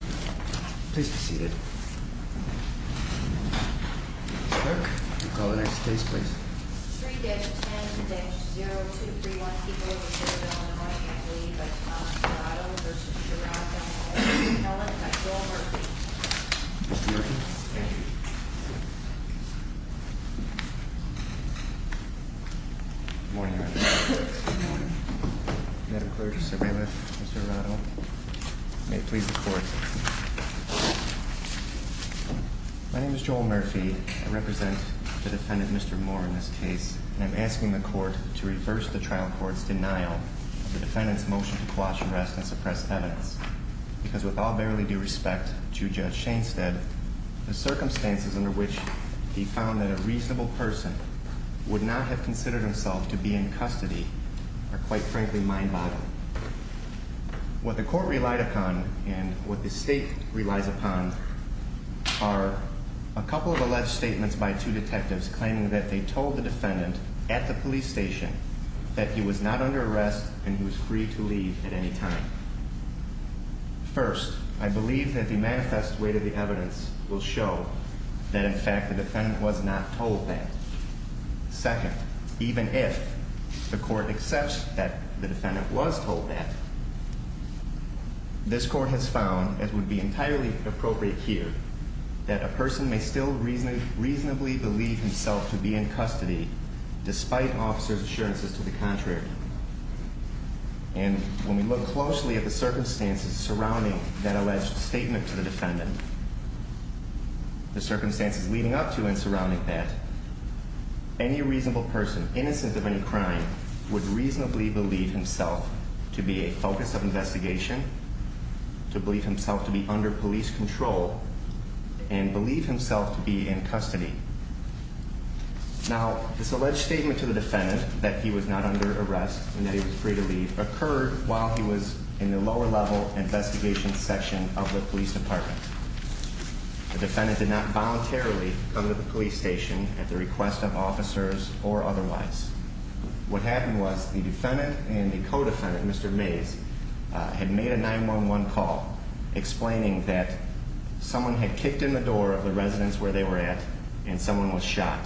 Please be seated. Clerk, call the next case, please. 3-10-0231, people of the Federal and Washington League of Colorado v. Sheraton, All in the name of the Lord, and by the power vested in me. Mr. Murphy. Thank you. Good morning. Good morning. Madam Clerk, Mr. Bailiff, Mr. Arado. May it please the Court. My name is Joel Murphy. I represent the defendant, Mr. Moore, in this case. And I'm asking the Court to reverse the trial court's denial of the defendant's motion to quash arrest and suppress evidence. Because with all barely due respect to Judge Shainstead, the circumstances under which he found that a reasonable person would not have considered himself to be in custody are, quite frankly, mind-boggling. What the Court relied upon and what the State relies upon are a couple of alleged statements by two detectives claiming that they told the defendant at the police station that he was not under arrest and he was free to leave at any time. First, I believe that the manifest weight of the evidence will show that, in fact, the defendant was not told that. Second, even if the Court accepts that the defendant was told that, this Court has found, as would be entirely appropriate here, that a person may still reasonably believe himself to be in custody despite officers' assurances to the contrary. And when we look closely at the circumstances surrounding that alleged statement to the defendant, the circumstances leading up to and surrounding that, any reasonable person, innocent of any crime, would reasonably believe himself to be a focus of investigation, to believe himself to be under police control, and believe himself to be in custody. Now, this alleged statement to the defendant that he was not under arrest and that he was free to leave occurred while he was in the lower-level investigation section of the police department. The defendant did not voluntarily come to the police station at the request of officers or otherwise. What happened was the defendant and the co-defendant, Mr. Mays, had made a 911 call explaining that someone had kicked in the door of the residence where they were at and someone was shot.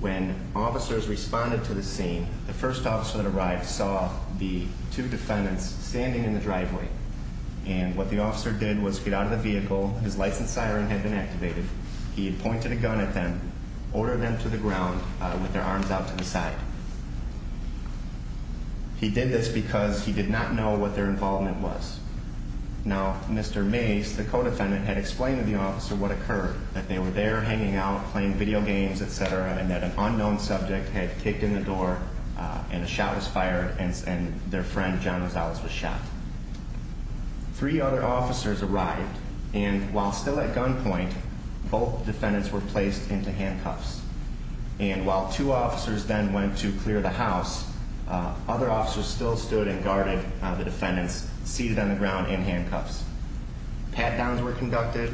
When officers responded to the scene, the first officer that arrived saw the two defendants standing in the driveway. And what the officer did was get out of the vehicle. His license siren had been activated. He had pointed a gun at them, ordered them to the ground with their arms out to the side. He did this because he did not know what their involvement was. Now, Mr. Mays, the co-defendant, had explained to the officer what occurred, that they were there hanging out, playing video games, etc., and that an unknown subject had kicked in the door and a shot was fired and their friend, John Rosales, was shot. Three other officers arrived, and while still at gunpoint, both defendants were placed into handcuffs. And while two officers then went to clear the house, other officers still stood and guarded the defendants, seated on the ground in handcuffs. Pat-downs were conducted.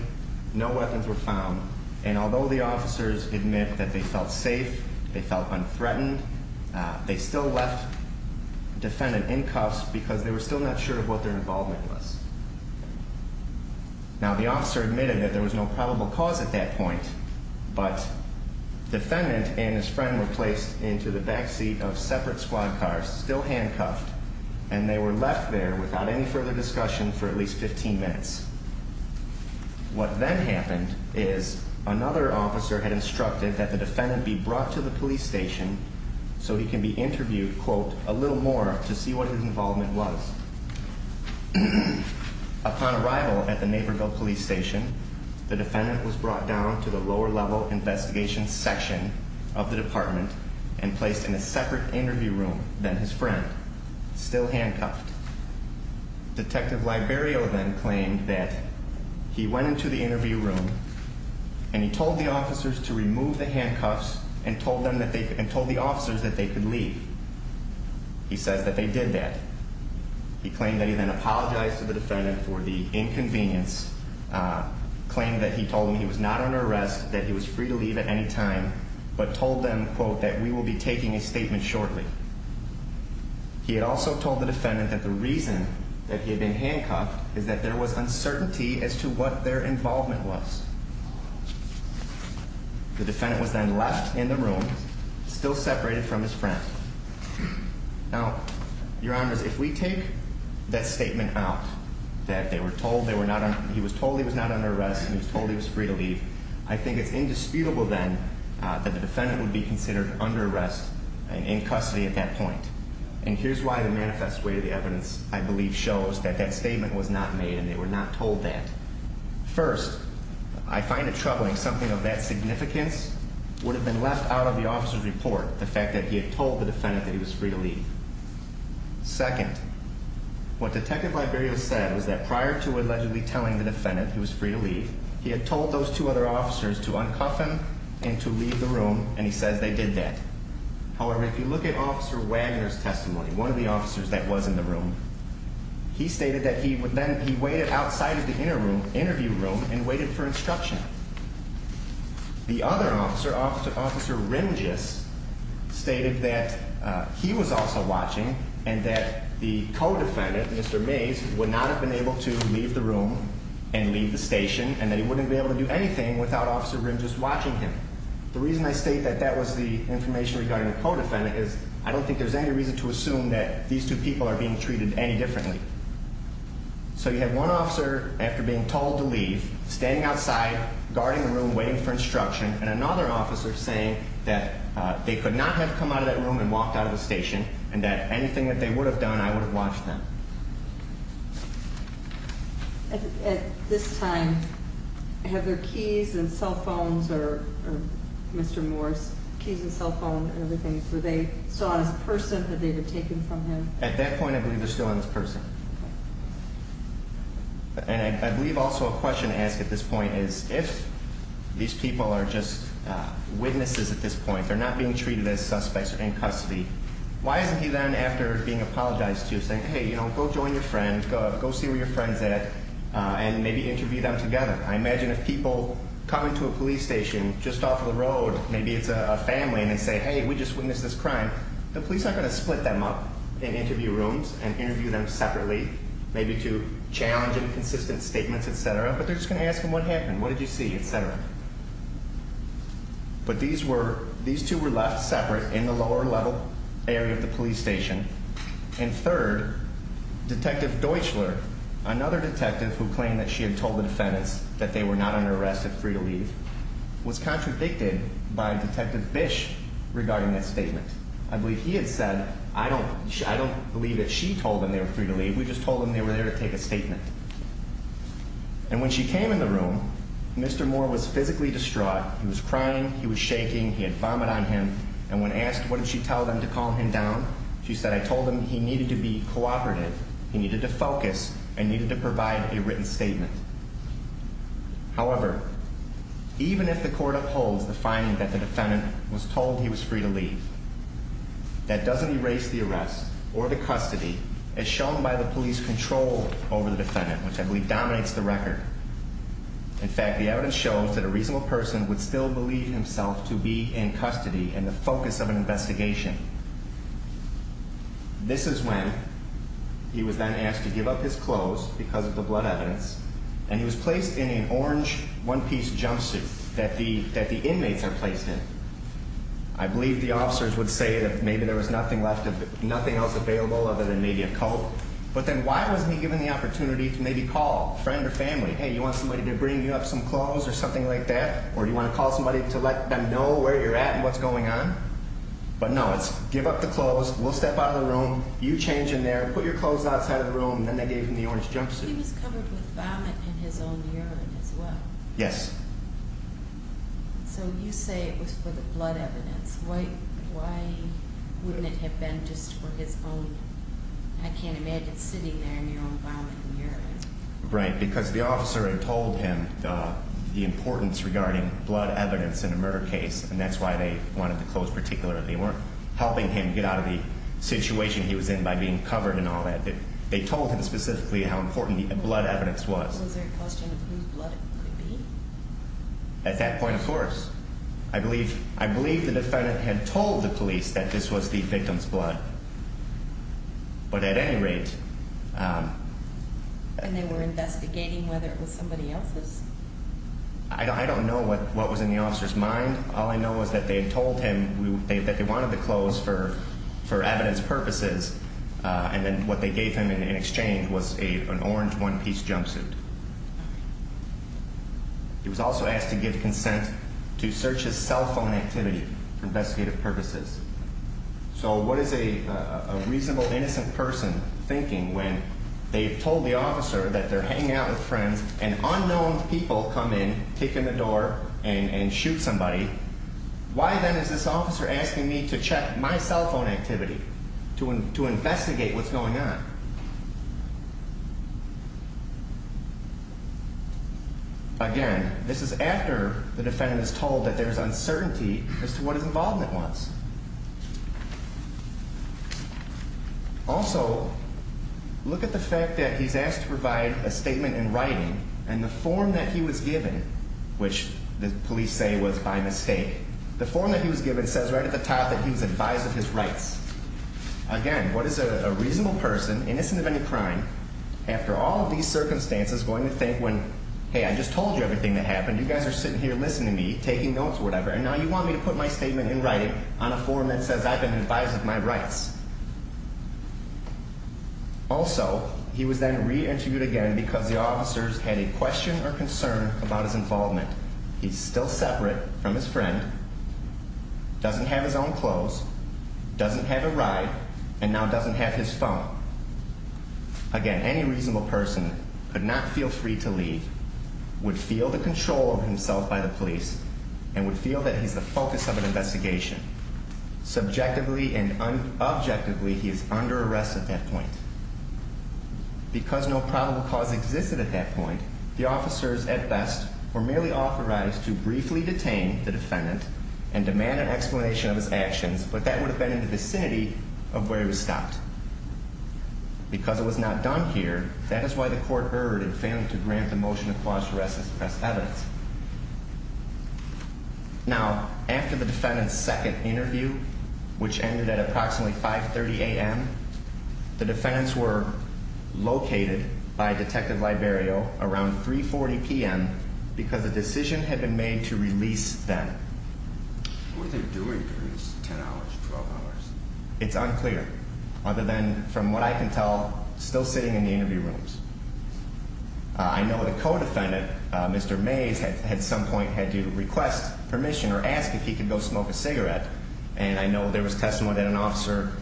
No weapons were found. And although the officers admit that they felt safe, they felt unthreatened, they still left the defendant in cuffs because they were still not sure of what their involvement was. Now, the officer admitted that there was no probable cause at that point, but defendant and his friend were placed into the backseat of separate squad cars, still handcuffed, and they were left there without any further discussion for at least 15 minutes. What then happened is another officer had instructed that the defendant a little more to see what his involvement was. Upon arrival at the Naperville Police Station, the defendant was brought down to the lower-level investigation section of the department and placed in a separate interview room than his friend, still handcuffed. Detective Liberio then claimed that he went into the interview room and he told the officers to remove the handcuffs and told the officers that they could leave. He says that they did that. He claimed that he then apologized to the defendant for the inconvenience, claimed that he told them he was not under arrest, that he was free to leave at any time, but told them, quote, that we will be taking a statement shortly. He had also told the defendant that the reason that he had been handcuffed is that there was uncertainty as to what their involvement was. The defendant was then left in the room, still separated from his friend. Now, Your Honors, if we take that statement out, that he was told he was not under arrest and he was told he was free to leave, I think it's indisputable then that the defendant would be considered under arrest and in custody at that point. And here's why the manifest way of the evidence, I believe, shows that that statement was not made and they were not told that. First, I find it troubling. Something of that significance would have been left out of the officer's report, the fact that he had told the defendant that he was free to leave. Second, what Detective Liberio said was that prior to allegedly telling the defendant he was free to leave, he had told those two other officers to uncuff him and to leave the room, and he says they did that. However, if you look at Officer Wagner's testimony, one of the officers that was in the room, he stated that he then waited outside of the interview room and waited for instruction. The other officer, Officer Rimgis, stated that he was also watching and that the co-defendant, Mr. Mays, would not have been able to leave the room and leave the station and that he wouldn't be able to do anything without Officer Rimgis watching him. The reason I state that that was the information regarding the co-defendant is I don't think there's any reason to assume that these two people are being treated any differently. So you have one officer, after being told to leave, standing outside, guarding the room, waiting for instruction, and another officer saying that they could not have come out of that room and walked out of the station and that anything that they would have done, I would have watched them. At this time, have their keys and cell phones or Mr. Morris' keys and cell phone and everything, were they still on his person? Had they been taken from him? At that point, I believe they're still on his person. And I believe also a question to ask at this point is, if these people are just witnesses at this point, they're not being treated as suspects or in custody, why isn't he then, after being apologized to, saying, hey, go join your friend, go see where your friend's at, and maybe interview them together? I imagine if people come into a police station just off the road, maybe it's a family, and they say, hey, we just witnessed this crime, the police aren't going to split them up in interview rooms and interview them separately, maybe to challenge inconsistent statements, et cetera, but they're just going to ask them what happened, what did you see, et cetera. But these two were left separate in the lower level area of the police station. And third, Detective Deutchler, another detective who claimed that she had told the defendants that they were not under arrest and free to leave, was contradicted by Detective Bish regarding that statement. I believe he had said, I don't believe that she told them they were free to leave, we just told them they were there to take a statement. And when she came in the room, Mr. Moore was physically distraught, he was crying, he was shaking, he had vomit on him, and when asked what did she tell them to calm him down, she said, I told them he needed to be cooperative, he needed to focus, and needed to provide a written statement. However, even if the court upholds the finding that the defendant was told he was free to leave, that doesn't erase the arrest or the custody as shown by the police control over the defendant, which I believe dominates the record. In fact, the evidence shows that a reasonable person would still believe himself to be in custody and the focus of an investigation. This is when he was then asked to give up his clothes because of the blood evidence, and he was placed in an orange one-piece jumpsuit that the inmates are placed in. I believe the officers would say that maybe there was nothing else available other than maybe a coat, but then why was he given the opportunity to maybe call a friend or family, hey, you want somebody to bring you up some clothes or something like that, or do you want to call somebody to let them know where you're at and what's going on? But no, it's give up the clothes, we'll step out of the room, you change in there, put your clothes outside of the room, and then they gave him the orange jumpsuit. He was covered with vomit and his own urine as well. Yes. So you say it was for the blood evidence. Why wouldn't it have been just for his own? I can't imagine sitting there in your own vomit and urine. Right, because the officer had told him the importance regarding blood evidence in a murder case, and that's why they wanted the clothes particularly. They weren't helping him get out of the situation he was in by being covered and all that. They told him specifically how important the blood evidence was. Was there a question of whose blood it could be? At that point, of course. I believe the defendant had told the police that this was the victim's blood. But at any rate. And they were investigating whether it was somebody else's. I don't know what was in the officer's mind. All I know is that they had told him that they wanted the clothes for evidence purposes, and then what they gave him in exchange was an orange one-piece jumpsuit. He was also asked to give consent to search his cell phone activity for investigative purposes. So what is a reasonable, innocent person thinking when they've told the officer that they're hanging out with friends and unknown people come in, kick in the door, and shoot somebody? Why then is this officer asking me to check my cell phone activity to investigate what's going on? Again, this is after the defendant is told that there is uncertainty as to what his involvement was. Also, look at the fact that he's asked to provide a statement in writing, and the form that he was given, which the police say was by mistake, the form that he was given says right at the top that he was advised of his rights. Again, what is a reasonable person, innocent of any crime, after all of these circumstances, going to think when, hey, I just told you everything that happened, you guys are sitting here listening to me, taking notes or whatever, and now you want me to put my statement in writing on a form that says I've been advised of my rights? Also, he was then re-interviewed again because the officers had a question or concern about his involvement. He's still separate from his friend, doesn't have his own clothes, doesn't have a ride, and now doesn't have his phone. Again, any reasonable person could not feel free to leave, would feel the control of himself by the police, and would feel that he's the focus of an investigation. Subjectively and objectively, he is under arrest at that point. Because no probable cause existed at that point, the officers, at best, were merely authorized to briefly detain the defendant and demand an explanation of his actions, but that would have been in the vicinity of where he was stopped. Because it was not done here, that is why the court erred in failing to grant the motion of clause to arrest as pressed evidence. Now, after the defendant's second interview, which ended at approximately 5.30 a.m., the defendants were located by Detective Liberio around 3.40 p.m. because a decision had been made to release them. It's unclear, other than from what I can tell, still sitting in the interview rooms. I know the co-defendant, Mr. Mays, at some point had to request permission or ask if he could go smoke a cigarette, and I know there was testimony that an officer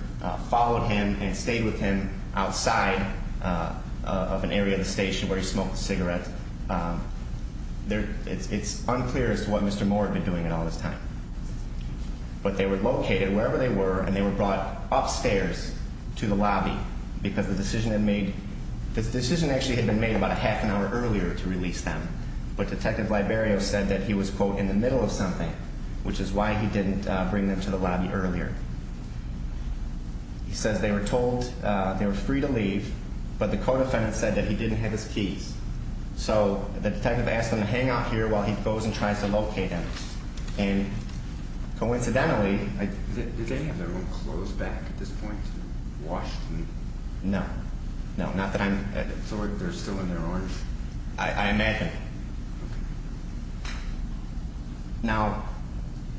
followed him and stayed with him outside of an area of the station where he smoked a cigarette. It's unclear as to what Mr. Moore had been doing all this time. But they were located wherever they were, and they were brought upstairs to the lobby because the decision had been made about a half an hour earlier to release them. But Detective Liberio said that he was, quote, in the middle of something, which is why he didn't bring them to the lobby earlier. He says they were told they were free to leave, but the co-defendant said that he didn't have his keys. So the detective asked them to hang out here while he goes and tries to locate them. And coincidentally... No. No, not that I'm... I imagine. Now,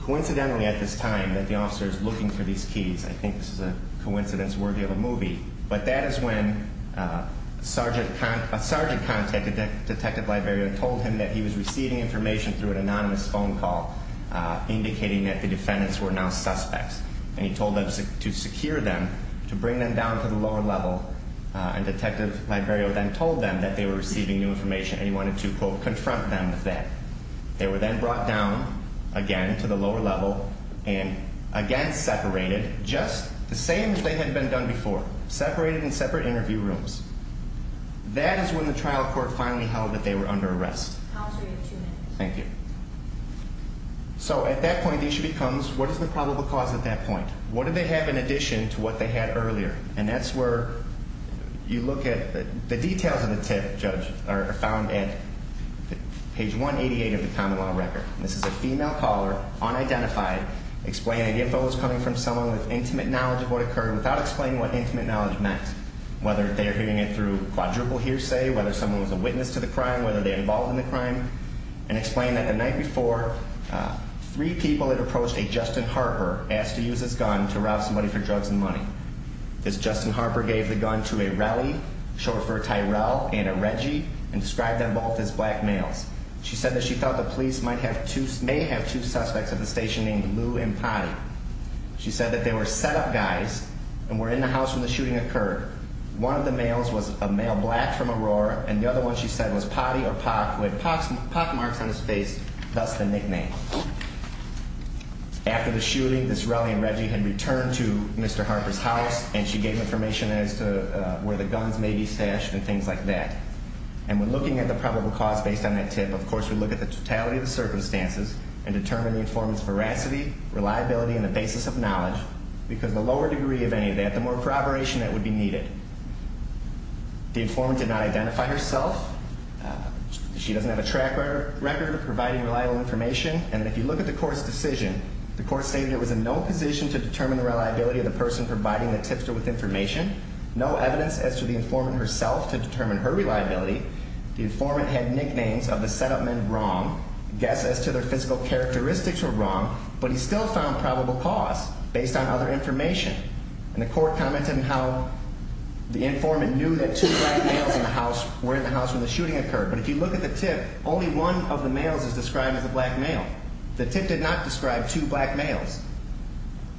coincidentally at this time that the officer is looking for these keys, I think this is a coincidence worthy of a movie, but that is when a sergeant contacted Detective Liberio and told him that he was receiving information through an anonymous phone call indicating that the defendants were now suspects. And he told them to secure them, to bring them down to the lower level, and Detective Liberio then told them that they were receiving new information and he wanted to, quote, confront them with that. They were then brought down again to the lower level and again separated, just the same as they had been done before. Separated in separate interview rooms. That is when the trial court finally held that they were under arrest. Thank you. So at that point the issue becomes, what is the probable cause at that point? What did they have in addition to what they had earlier? And that's where you look at... The details of the tip, Judge, are found at page 188 of the common law record. This is a female caller, unidentified, explaining the info was coming from someone with intimate knowledge of what occurred, without explaining what intimate knowledge meant. Whether they are hearing it through quadruple hearsay, whether someone was a witness to the crime, whether they were involved in the crime. And explained that the night before, three people had approached a Justin Harper, asked to use his gun to rob somebody for drugs and money. This Justin Harper gave the gun to a Relly, short for Tyrell, and a Reggie, and described them both as black males. She said that she thought the police may have two suspects at the station named Lou and Potty. She said that they were set up guys, and were in the house when the shooting occurred. One of the males was a male black from Aurora, and the other one, she said, was Potty or Poc, with Poc marks on his face, thus the nickname. After the shooting, this Relly and Reggie had returned to Mr. Harper's house, and she gave information as to where the guns may be stashed and things like that. And when looking at the probable cause based on that tip, of course, we look at the totality of the circumstances and determine the informant's veracity, reliability, and the basis of knowledge, because the lower degree of any of that, the more corroboration that would be needed. The informant did not identify herself. She doesn't have a track record of providing reliable information, and if you look at the court's decision, the court stated it was in no position to determine the reliability of the person providing the tipster with information, no evidence as to the informant herself to determine her reliability. The informant had nicknames of the set-up men wrong, guesses as to their physical characteristics were wrong, but he still found probable cause based on other information. And the court commented on how the informant knew that two black males were in the house when the shooting occurred, but if you look at the tip, only one of the males is described as a black male. The tip did not describe two black males.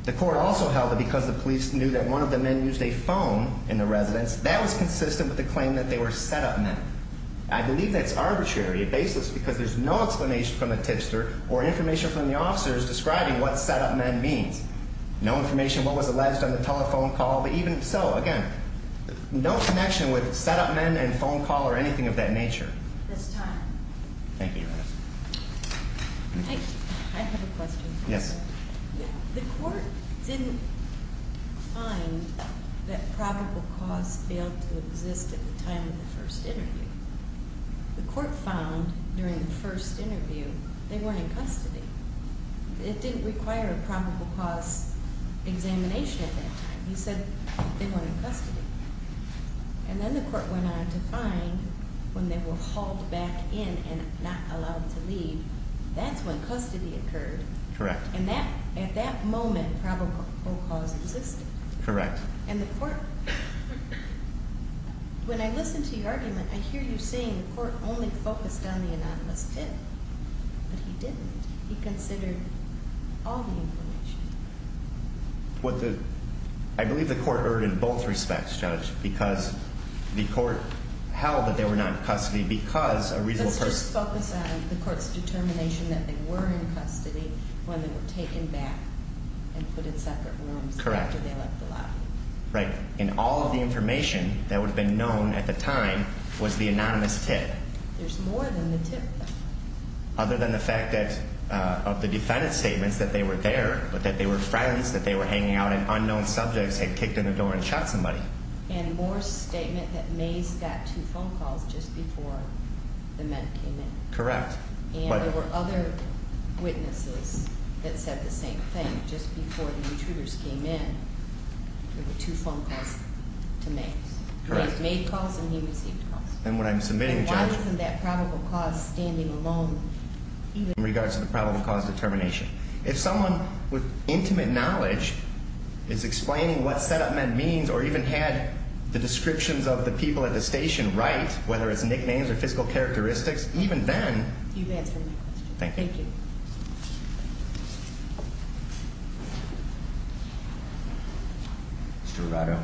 The court also held that because the police knew that one of the men used a phone in the residence, that was consistent with the claim that they were set-up men. I believe that's arbitrary, baseless, because there's no explanation from the tipster or information from the officers describing what set-up men means. No information what was alleged on the telephone call, but even so, again, no connection with set-up men and phone call or anything of that nature. This time. Thank you, Your Honor. I have a question. Yes. The court didn't find that probable cause failed to exist at the time of the first interview. The court found during the first interview they weren't in custody. It didn't require a probable cause examination at that time. He said they weren't in custody. And then the court went on to find when they were hauled back in and not allowed to leave, that's when custody occurred. Correct. And at that moment, probable cause existed. Correct. And the court, when I listened to your argument, I hear you saying the court only focused on the anonymous tip. But he didn't. He considered all the information. What the, I believe the court erred in both respects, Judge, because the court held that they were not in custody because a reason for The court's determination that they were in custody when they were taken back and put in separate rooms after they left the lobby. Correct. Right. And all of the information that would have been known at the time was the anonymous tip. There's more than the tip, though. Other than the fact that of the defendant's statements that they were there, but that they were friends, that they were hanging out and unknown subjects had kicked in the door and shot somebody. And Moore's statement that Mays got two phone calls just before the men came in. Correct. And there were other witnesses that said the same thing. Just before the intruders came in, there were two phone calls to Mays. Correct. He made calls and he received calls. And what I'm submitting, Judge. And why isn't that probable cause standing alone, even? In regards to the probable cause determination. If someone with intimate knowledge is explaining what set up men means or even had the descriptions of the people at the station right, whether it's nicknames or physical characteristics, even then. You've answered my question. Thank you. Thank you. Mr. Rado.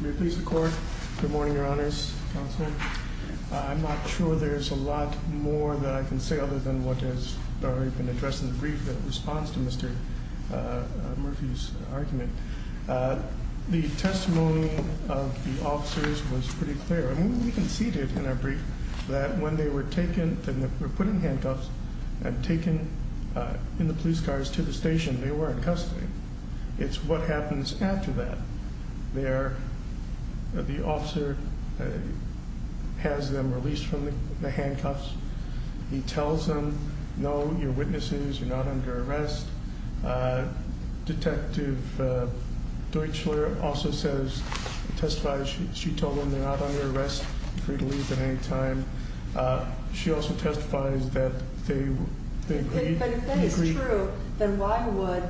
May it please the court. Good morning, Your Honors. Counselor. I'm not sure there's a lot more that I can say other than what has already been addressed in the brief that responds to Mr. Murphy's argument. The testimony of the officers was pretty clear. I mean, we conceded in our brief that when they were put in handcuffs and taken in the police cars to the station, they were in custody. It's what happens after that. The officer has them released from the handcuffs. He tells them, no, you're witnesses. You're not under arrest. Detective Deutschler also says, testifies, she told them they're not under arrest, free to leave at any time. She also testifies that they agreed. But if that is true, then why would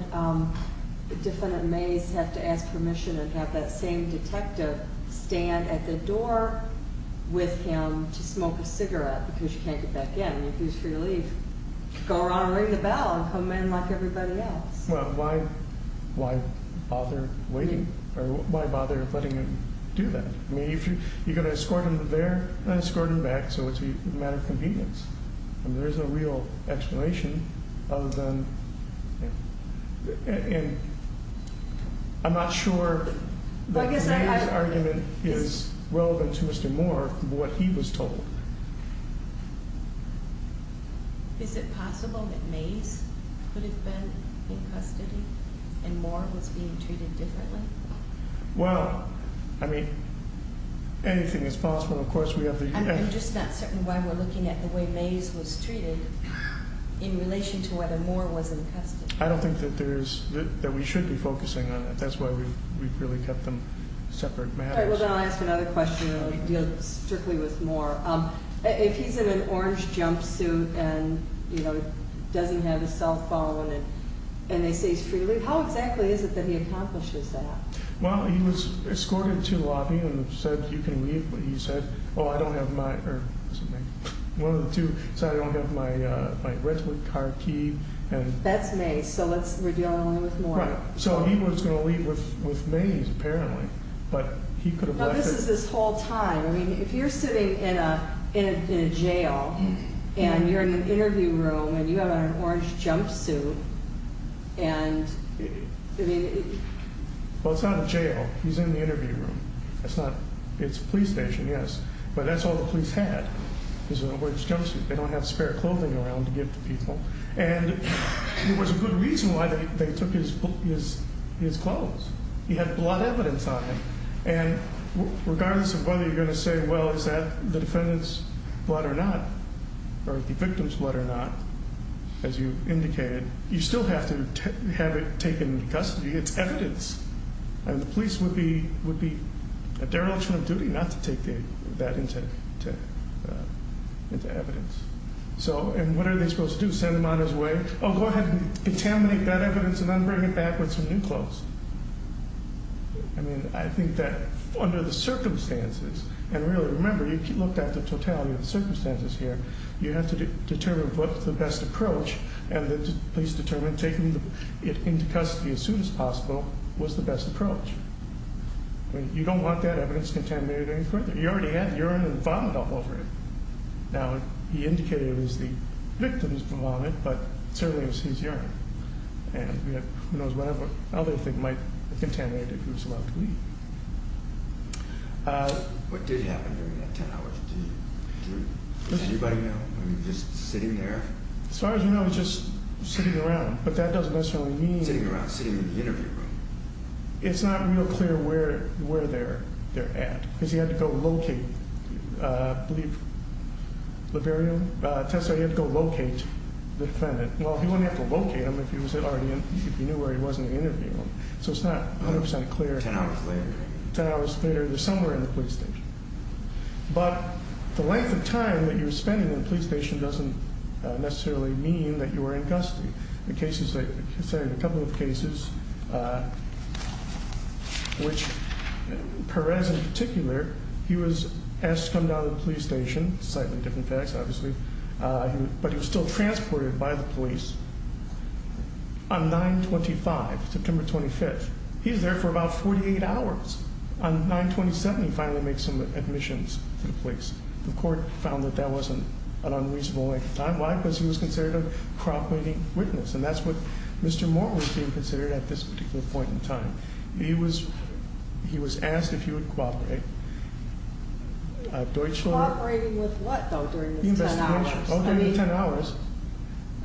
Defendant Mays have to ask permission and have that same detective stand at the door with him to smoke a cigarette because you can't get back in? You're free to leave. Go around and ring the bell and come in like everybody else. Well, why bother waiting or why bother letting him do that? I mean, you're going to escort him there and escort him back, so it's a matter of convenience. And there's a real explanation of them. And I'm not sure that his argument is relevant to Mr. Moore, what he was told. Is it possible that Mays could have been in custody and Moore was being treated differently? Well, I mean, anything is possible. I'm just not certain why we're looking at the way Mays was treated in relation to whether Moore was in custody. I don't think that we should be focusing on that. That's why we've really kept them separate matters. All right, well, then I'll ask another question and deal strictly with Moore. If he's in an orange jumpsuit and doesn't have a cell phone and they say he's free to leave, how exactly is it that he accomplishes that? Well, he was escorted to the lobby and said, you can leave. But he said, oh, I don't have my—or was it Mays? One of the two said, I don't have my rental car key. That's Mays, so we're dealing only with Moore. Right, so he was going to leave with Mays, apparently. But he could have left— No, this is this whole time. I mean, if you're sitting in a jail and you're in an interview room and you have an orange jumpsuit and— Well, it's not a jail. He's in the interview room. It's a police station, yes. But that's all the police had is an orange jumpsuit. They don't have spare clothing around to give to people. And there was a good reason why they took his clothes. He had blood evidence on him. And regardless of whether you're going to say, well, is that the defendant's blood or not, or the victim's blood or not, as you indicated, you still have to have it taken into custody. It's evidence. And the police would be a dereliction of duty not to take that into evidence. And what are they supposed to do, send him on his way? Oh, go ahead and contaminate that evidence and then bring it back with some new clothes. I mean, I think that under the circumstances, and really, remember, you looked at the totality of the circumstances here, you have to determine what's the best approach, and the police determined taking it into custody as soon as possible was the best approach. I mean, you don't want that evidence contaminated any further. He already had urine and vomit all over him. Now, he indicated it was the victim's vomit, but certainly it was his urine. And who knows what other thing might have contaminated it if he was allowed to leave. What did happen during that 10 hours? Does anybody know? I mean, just sitting there? As far as we know, he was just sitting around. But that doesn't necessarily mean— Sitting around, sitting in the interview room. It's not real clear where they're at because he had to go locate, I believe, Liberian? Tessa, he had to go locate the defendant. Well, he wouldn't have to locate him if he knew where he was in the interview room. So it's not 100% clear. 10 hours later. 10 hours later, they're somewhere in the police station. But the length of time that you're spending in the police station doesn't necessarily mean that you are in custody. There are a couple of cases which Perez, in particular, he was asked to come down to the police station. Slightly different facts, obviously. But he was still transported by the police on 9-25, September 25th. He's there for about 48 hours. On 9-27, he finally makes some admissions to the police. The court found that that wasn't an unreasonable length of time. Why? Because he was considered a crop-weeding witness. And that's what Mr. Moore was being considered at this particular point in time. He was asked if he would cooperate. Cooperating with what, though, during those 10 hours? Oh, during the 10 hours.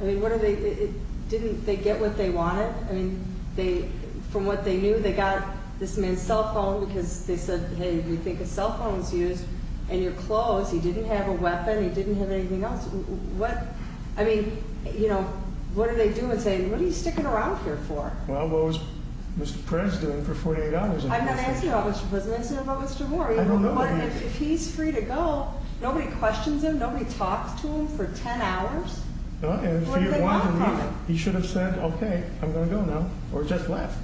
I mean, didn't they get what they wanted? I mean, from what they knew, they got this man's cell phone because they said, hey, we think his cell phone was used. And your clothes, he didn't have a weapon. He didn't have anything else. What, I mean, you know, what do they do and say, what are you sticking around here for? Well, what was Mr. Perez doing for 48 hours? I'm not answering about Mr. Perez. I'm answering about Mr. Moore. I don't know who he is. If he's free to go, nobody questions him? Nobody talks to him for 10 hours? No. What do they want from him? He should have said, okay, I'm going to go now, or just left.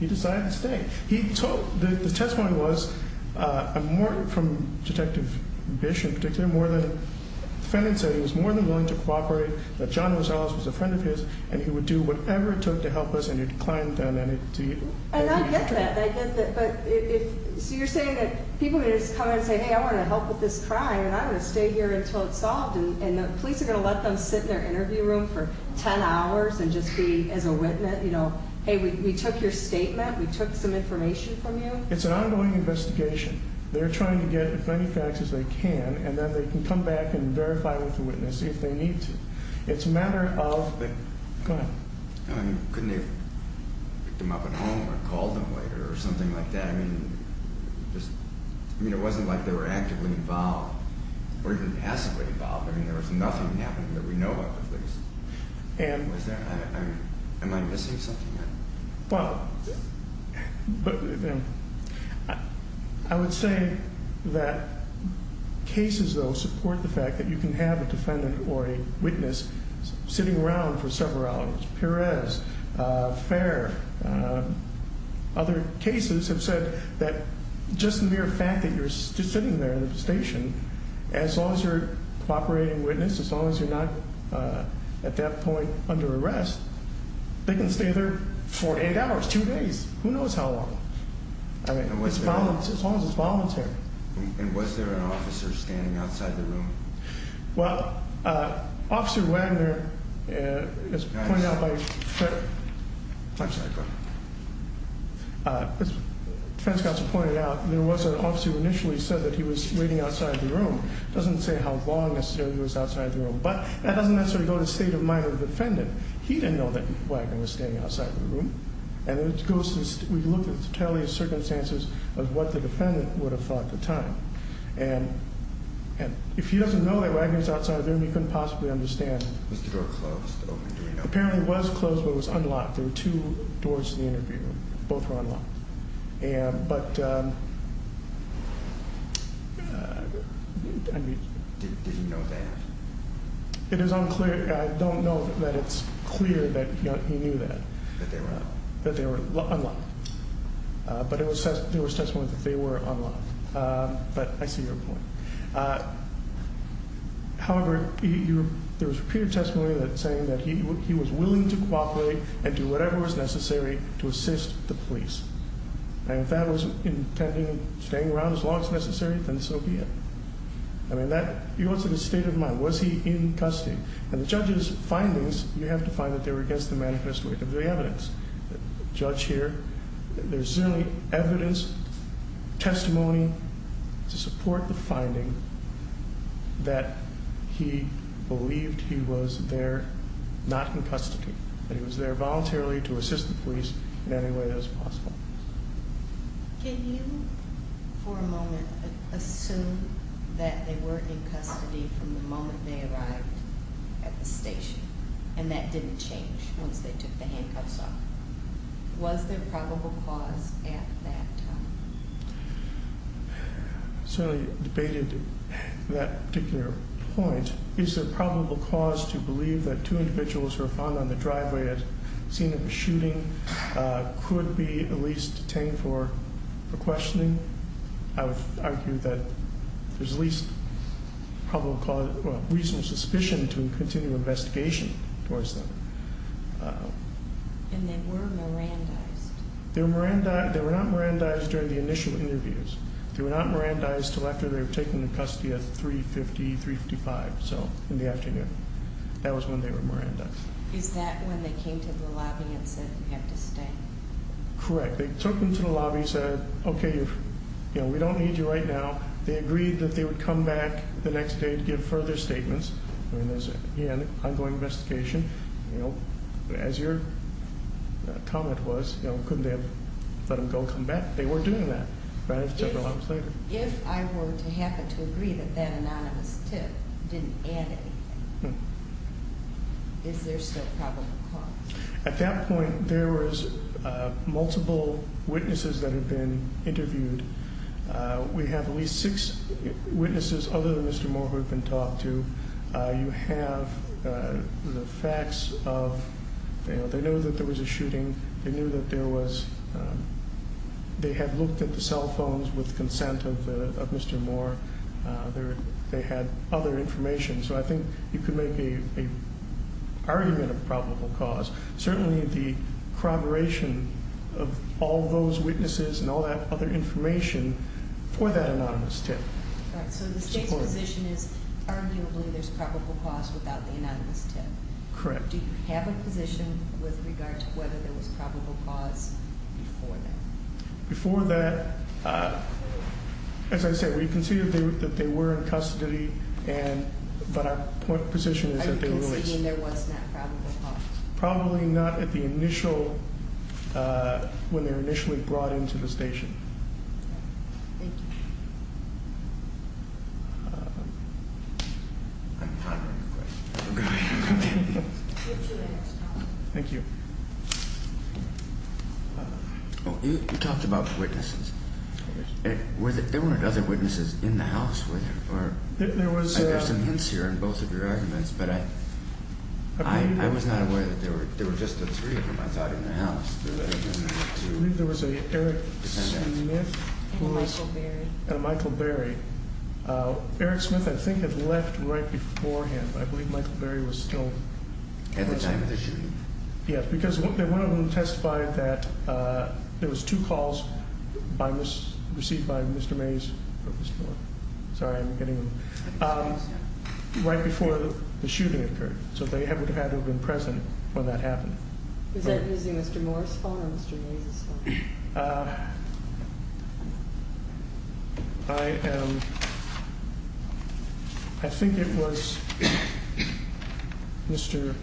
He decided to stay. He told, the testimony was more from Detective Bish in particular, more than, the defendant said he was more than willing to cooperate, that John Rosales was a friend of his, and he would do whatever it took to help us, and he declined that. And I get that. I get that. But if, so you're saying that people can just come in and say, hey, I want to help with this crime, and I'm going to stay here until it's solved, and the police are going to let them sit in their interview room for 10 hours and just be, as a witness, you know, hey, we took your statement, we took some information from you? It's an ongoing investigation. They're trying to get as many facts as they can, and then they can come back and verify with the witness if they need to. It's a matter of the, go ahead. Couldn't they have picked him up at home or called him later or something like that? I mean, it wasn't like they were actively involved or even passively involved. I mean, there was nothing happening that we know of. Am I missing something? Well, I would say that cases, though, support the fact that you can have a defendant or a witness sitting around for several hours. Perez, Fair, other cases have said that just the mere fact that you're sitting there in the station, as long as you're a cooperating witness, as long as you're not at that point under arrest, they can stay there for eight hours, two days, who knows how long. I mean, as long as it's voluntary. Well, Officer Wagner, as pointed out by, I'm sorry, go ahead. As the defense counsel pointed out, there was an officer who initially said that he was waiting outside the room. It doesn't say how long necessarily he was outside the room, but that doesn't necessarily go to the state of mind of the defendant. He didn't know that Wagner was staying outside the room, and we looked at the totality of circumstances of what the defendant would have thought at the time. And if he doesn't know that Wagner was outside the room, he couldn't possibly understand. Was the door closed? Apparently it was closed, but it was unlocked. There were two doors to the interview room. Both were unlocked. But, I mean. Did he know that? It is unclear. I don't know that it's clear that he knew that. That they were unlocked. But there was testimony that they were unlocked. But I see your point. However, there was repeated testimony saying that he was willing to cooperate and do whatever was necessary to assist the police. And if that was intending staying around as long as necessary, then so be it. I mean, that goes to the state of mind. Was he in custody? And the judge's findings, you have to find that they were against the manifesto of the evidence. The judge here, there's certainly evidence, testimony to support the finding that he believed he was there, not in custody. That he was there voluntarily to assist the police in any way that was possible. Can you, for a moment, assume that they were in custody from the moment they arrived at the station? And that didn't change once they took the handcuffs off. Was there probable cause at that time? Certainly debated that particular point. Is there probable cause to believe that two individuals who were found on the driveway at the scene of the shooting could be at least detained for questioning? I would argue that there's at least reasonable suspicion to continue investigation towards them. And they were Mirandized? They were not Mirandized during the initial interviews. They were not Mirandized until after they were taken into custody at 3.50, 3.55, so in the afternoon. That was when they were Mirandized. Is that when they came to the lobby and said you have to stay? Correct. They took them to the lobby and said, okay, we don't need you right now. They agreed that they would come back the next day to give further statements. Again, ongoing investigation. As your comment was, couldn't they have let them go and come back? They were doing that several hours later. If I were to happen to agree that that anonymous tip didn't add anything, is there still probable cause? At that point, there was multiple witnesses that had been interviewed. We have at least six witnesses other than Mr. Moore who have been talked to. You have the facts of they knew that there was a shooting. They knew that there was they had looked at the cell phones with consent of Mr. Moore. They had other information. I think you could make an argument of probable cause. Certainly the corroboration of all those witnesses and all that other information for that anonymous tip. The state's position is arguably there's probable cause without the anonymous tip. Correct. Do you have a position with regard to whether there was probable cause before that? Before that, as I said, we conceded that they were in custody, but our point of position is that they were released. Are you conceding there was not probable cause? Probably not at the initial, when they were initially brought into the station. Thank you. Thank you. Thank you. You talked about witnesses. There weren't other witnesses in the house, were there? There were some hints here in both of your arguments, but I was not aware that there were just the three of them, I thought, in the house. I believe there was an Eric Smith and a Michael Berry. Eric Smith, I think, had left right beforehand. I believe Michael Berry was still at the time of the shooting. Yes, because one of them testified that there was two calls received by Mr. Mays, right before the shooting occurred. So they would have had to have been present when that happened. Is that using Mr. Moore's phone or Mr. Mays' phone? I think it was Mr.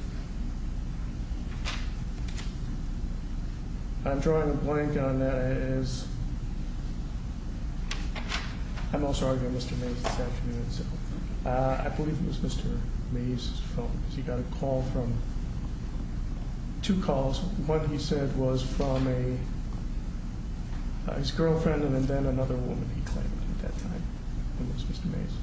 I'm drawing a blank on that. I'm also arguing Mr. Mays this afternoon. I believe it was Mr. Mays' phone because he got a call from, two calls. One he said was from his girlfriend and then another woman he claimed at that time. It was Mr. Mays.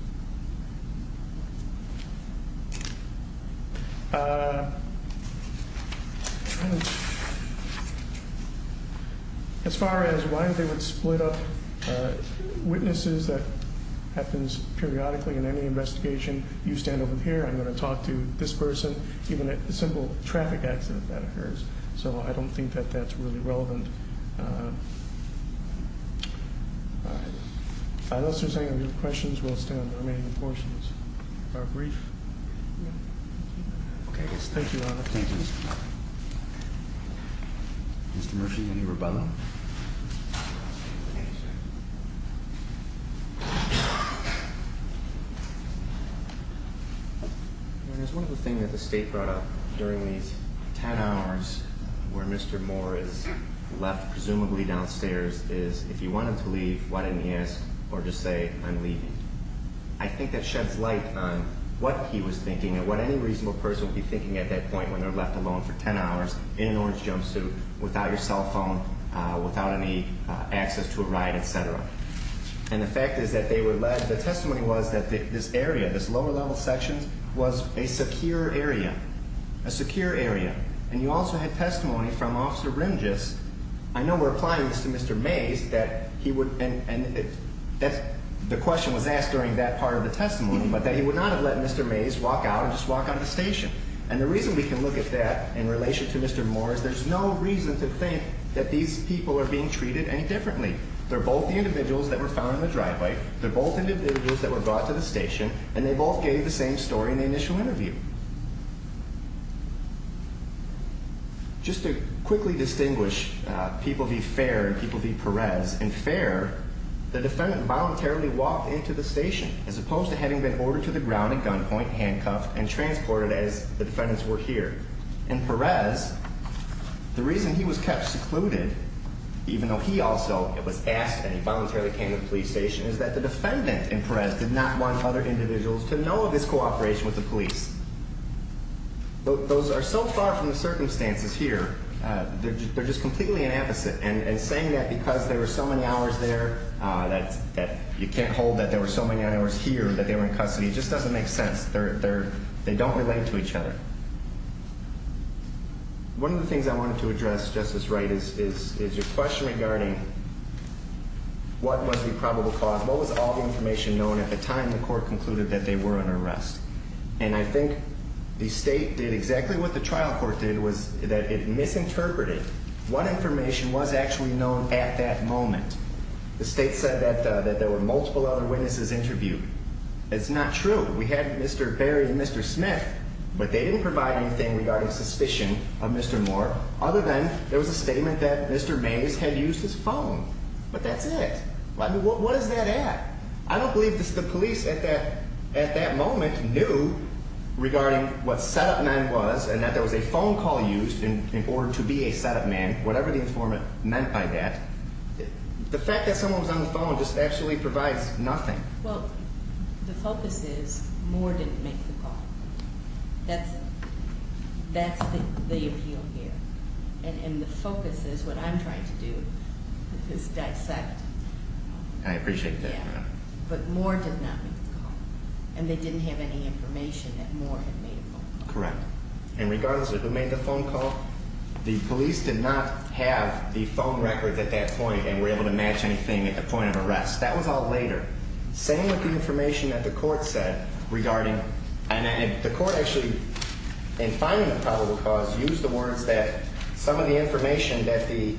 As far as why they would split up witnesses, that happens periodically in any investigation. You stand over here, I'm going to talk to this person, even a simple traffic accident that occurs. So I don't think that that's really relevant. All right. Unless there's any other questions, we'll stay on the remaining portions of our brief. Okay, thank you, Your Honor. Thank you. Mr. Murphy, any rebuttal? Your Honor, there's one other thing that the State brought up during these 10 hours where Mr. Moore is left presumably downstairs is if you want him to leave, why didn't he ask or just say I'm leaving? I think that sheds light on what he was thinking and what any reasonable person would be thinking at that point when they're left alone for 10 hours in an orange jumpsuit, without your cell phone, without any access to a ride, et cetera. And the fact is that they were led, the testimony was that this area, this lower level section was a secure area, a secure area. And you also had testimony from Officer Rimgis. I know we're applying this to Mr. Mays that he would, and the question was asked during that part of the testimony, but that he would not have let Mr. Mays walk out and just walk out of the station. And the reason we can look at that in relation to Mr. Moore is there's no reason to think that these people are being treated any differently. They're both the individuals that were found in the driveway. They're both individuals that were brought to the station. And they both gave the same story in the initial interview. Just to quickly distinguish people v. Fair and people v. Perez, in Fair, the defendant voluntarily walked into the station, as opposed to having been ordered to the ground at gunpoint, handcuffed, and transported as the defendants were here. In Perez, the reason he was kept secluded, even though he also was asked and he voluntarily came to the police station, is that the defendant in Perez did not want other individuals to know of his cooperation with the police. Those are so far from the circumstances here, they're just completely an opposite. And saying that because there were so many hours there that you can't hold that there were so many hours here, that they were in custody, just doesn't make sense. They don't relate to each other. One of the things I wanted to address, Justice Wright, is your question regarding what was the probable cause. What was all the information known at the time the court concluded that they were under arrest? And I think the state did exactly what the trial court did, was that it misinterpreted. What information was actually known at that moment? The state said that there were multiple other witnesses interviewed. That's not true. We had Mr. Berry and Mr. Smith, but they didn't provide anything regarding suspicion of Mr. Moore, other than there was a statement that Mr. Mays had used his phone. But that's it. What is that at? I don't believe the police at that moment knew regarding what setup man was, and that there was a phone call used in order to be a setup man, whatever the informant meant by that. The fact that someone was on the phone just actually provides nothing. Well, the focus is Moore didn't make the call. That's it. That's the appeal here. And the focus is, what I'm trying to do, is dissect. I appreciate that. But Moore did not make the call, and they didn't have any information that Moore had made a phone call. Correct. And regardless of who made the phone call, the police did not have the phone records at that point and were able to match anything at the point of arrest. That was all later. Same with the information that the court said regarding – and the court actually, in finding the probable cause, used the words that some of the information that the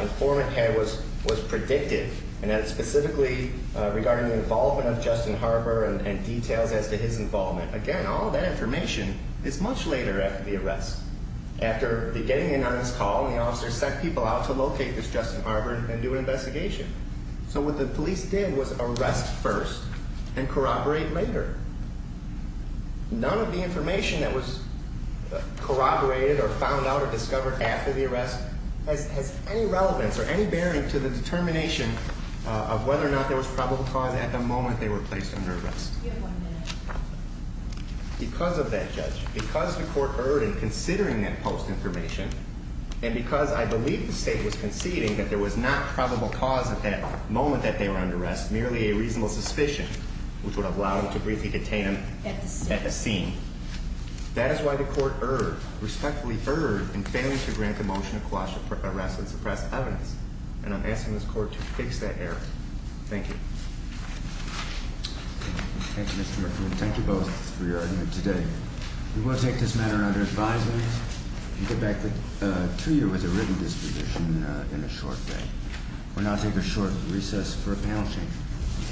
informant had was predictive, and specifically regarding the involvement of Justin Harper and details as to his involvement. Again, all of that information is much later after the arrest. After getting in on his call, the officer sent people out to locate this Justin Harper and do an investigation. So what the police did was arrest first and corroborate later. None of the information that was corroborated or found out or discovered after the arrest has any relevance or any bearing to the determination of whether or not there was probable cause at the moment they were placed under arrest. Because of that, Judge, because the court erred in considering that post information, and because I believe the state was conceding that there was not probable cause at that moment that they were under arrest, merely a reasonable suspicion, which would have allowed them to briefly detain him at the scene. That is why the court erred, respectfully erred, in failing to grant the motion to quash arrest and suppress evidence. And I'm asking this court to fix that error. Thank you. Thank you, Mr. McCrory. Thank you both for your argument today. We will take this matter under advisement and get back to you as a written disposition in a short way. We'll now take a short recess for a panel change.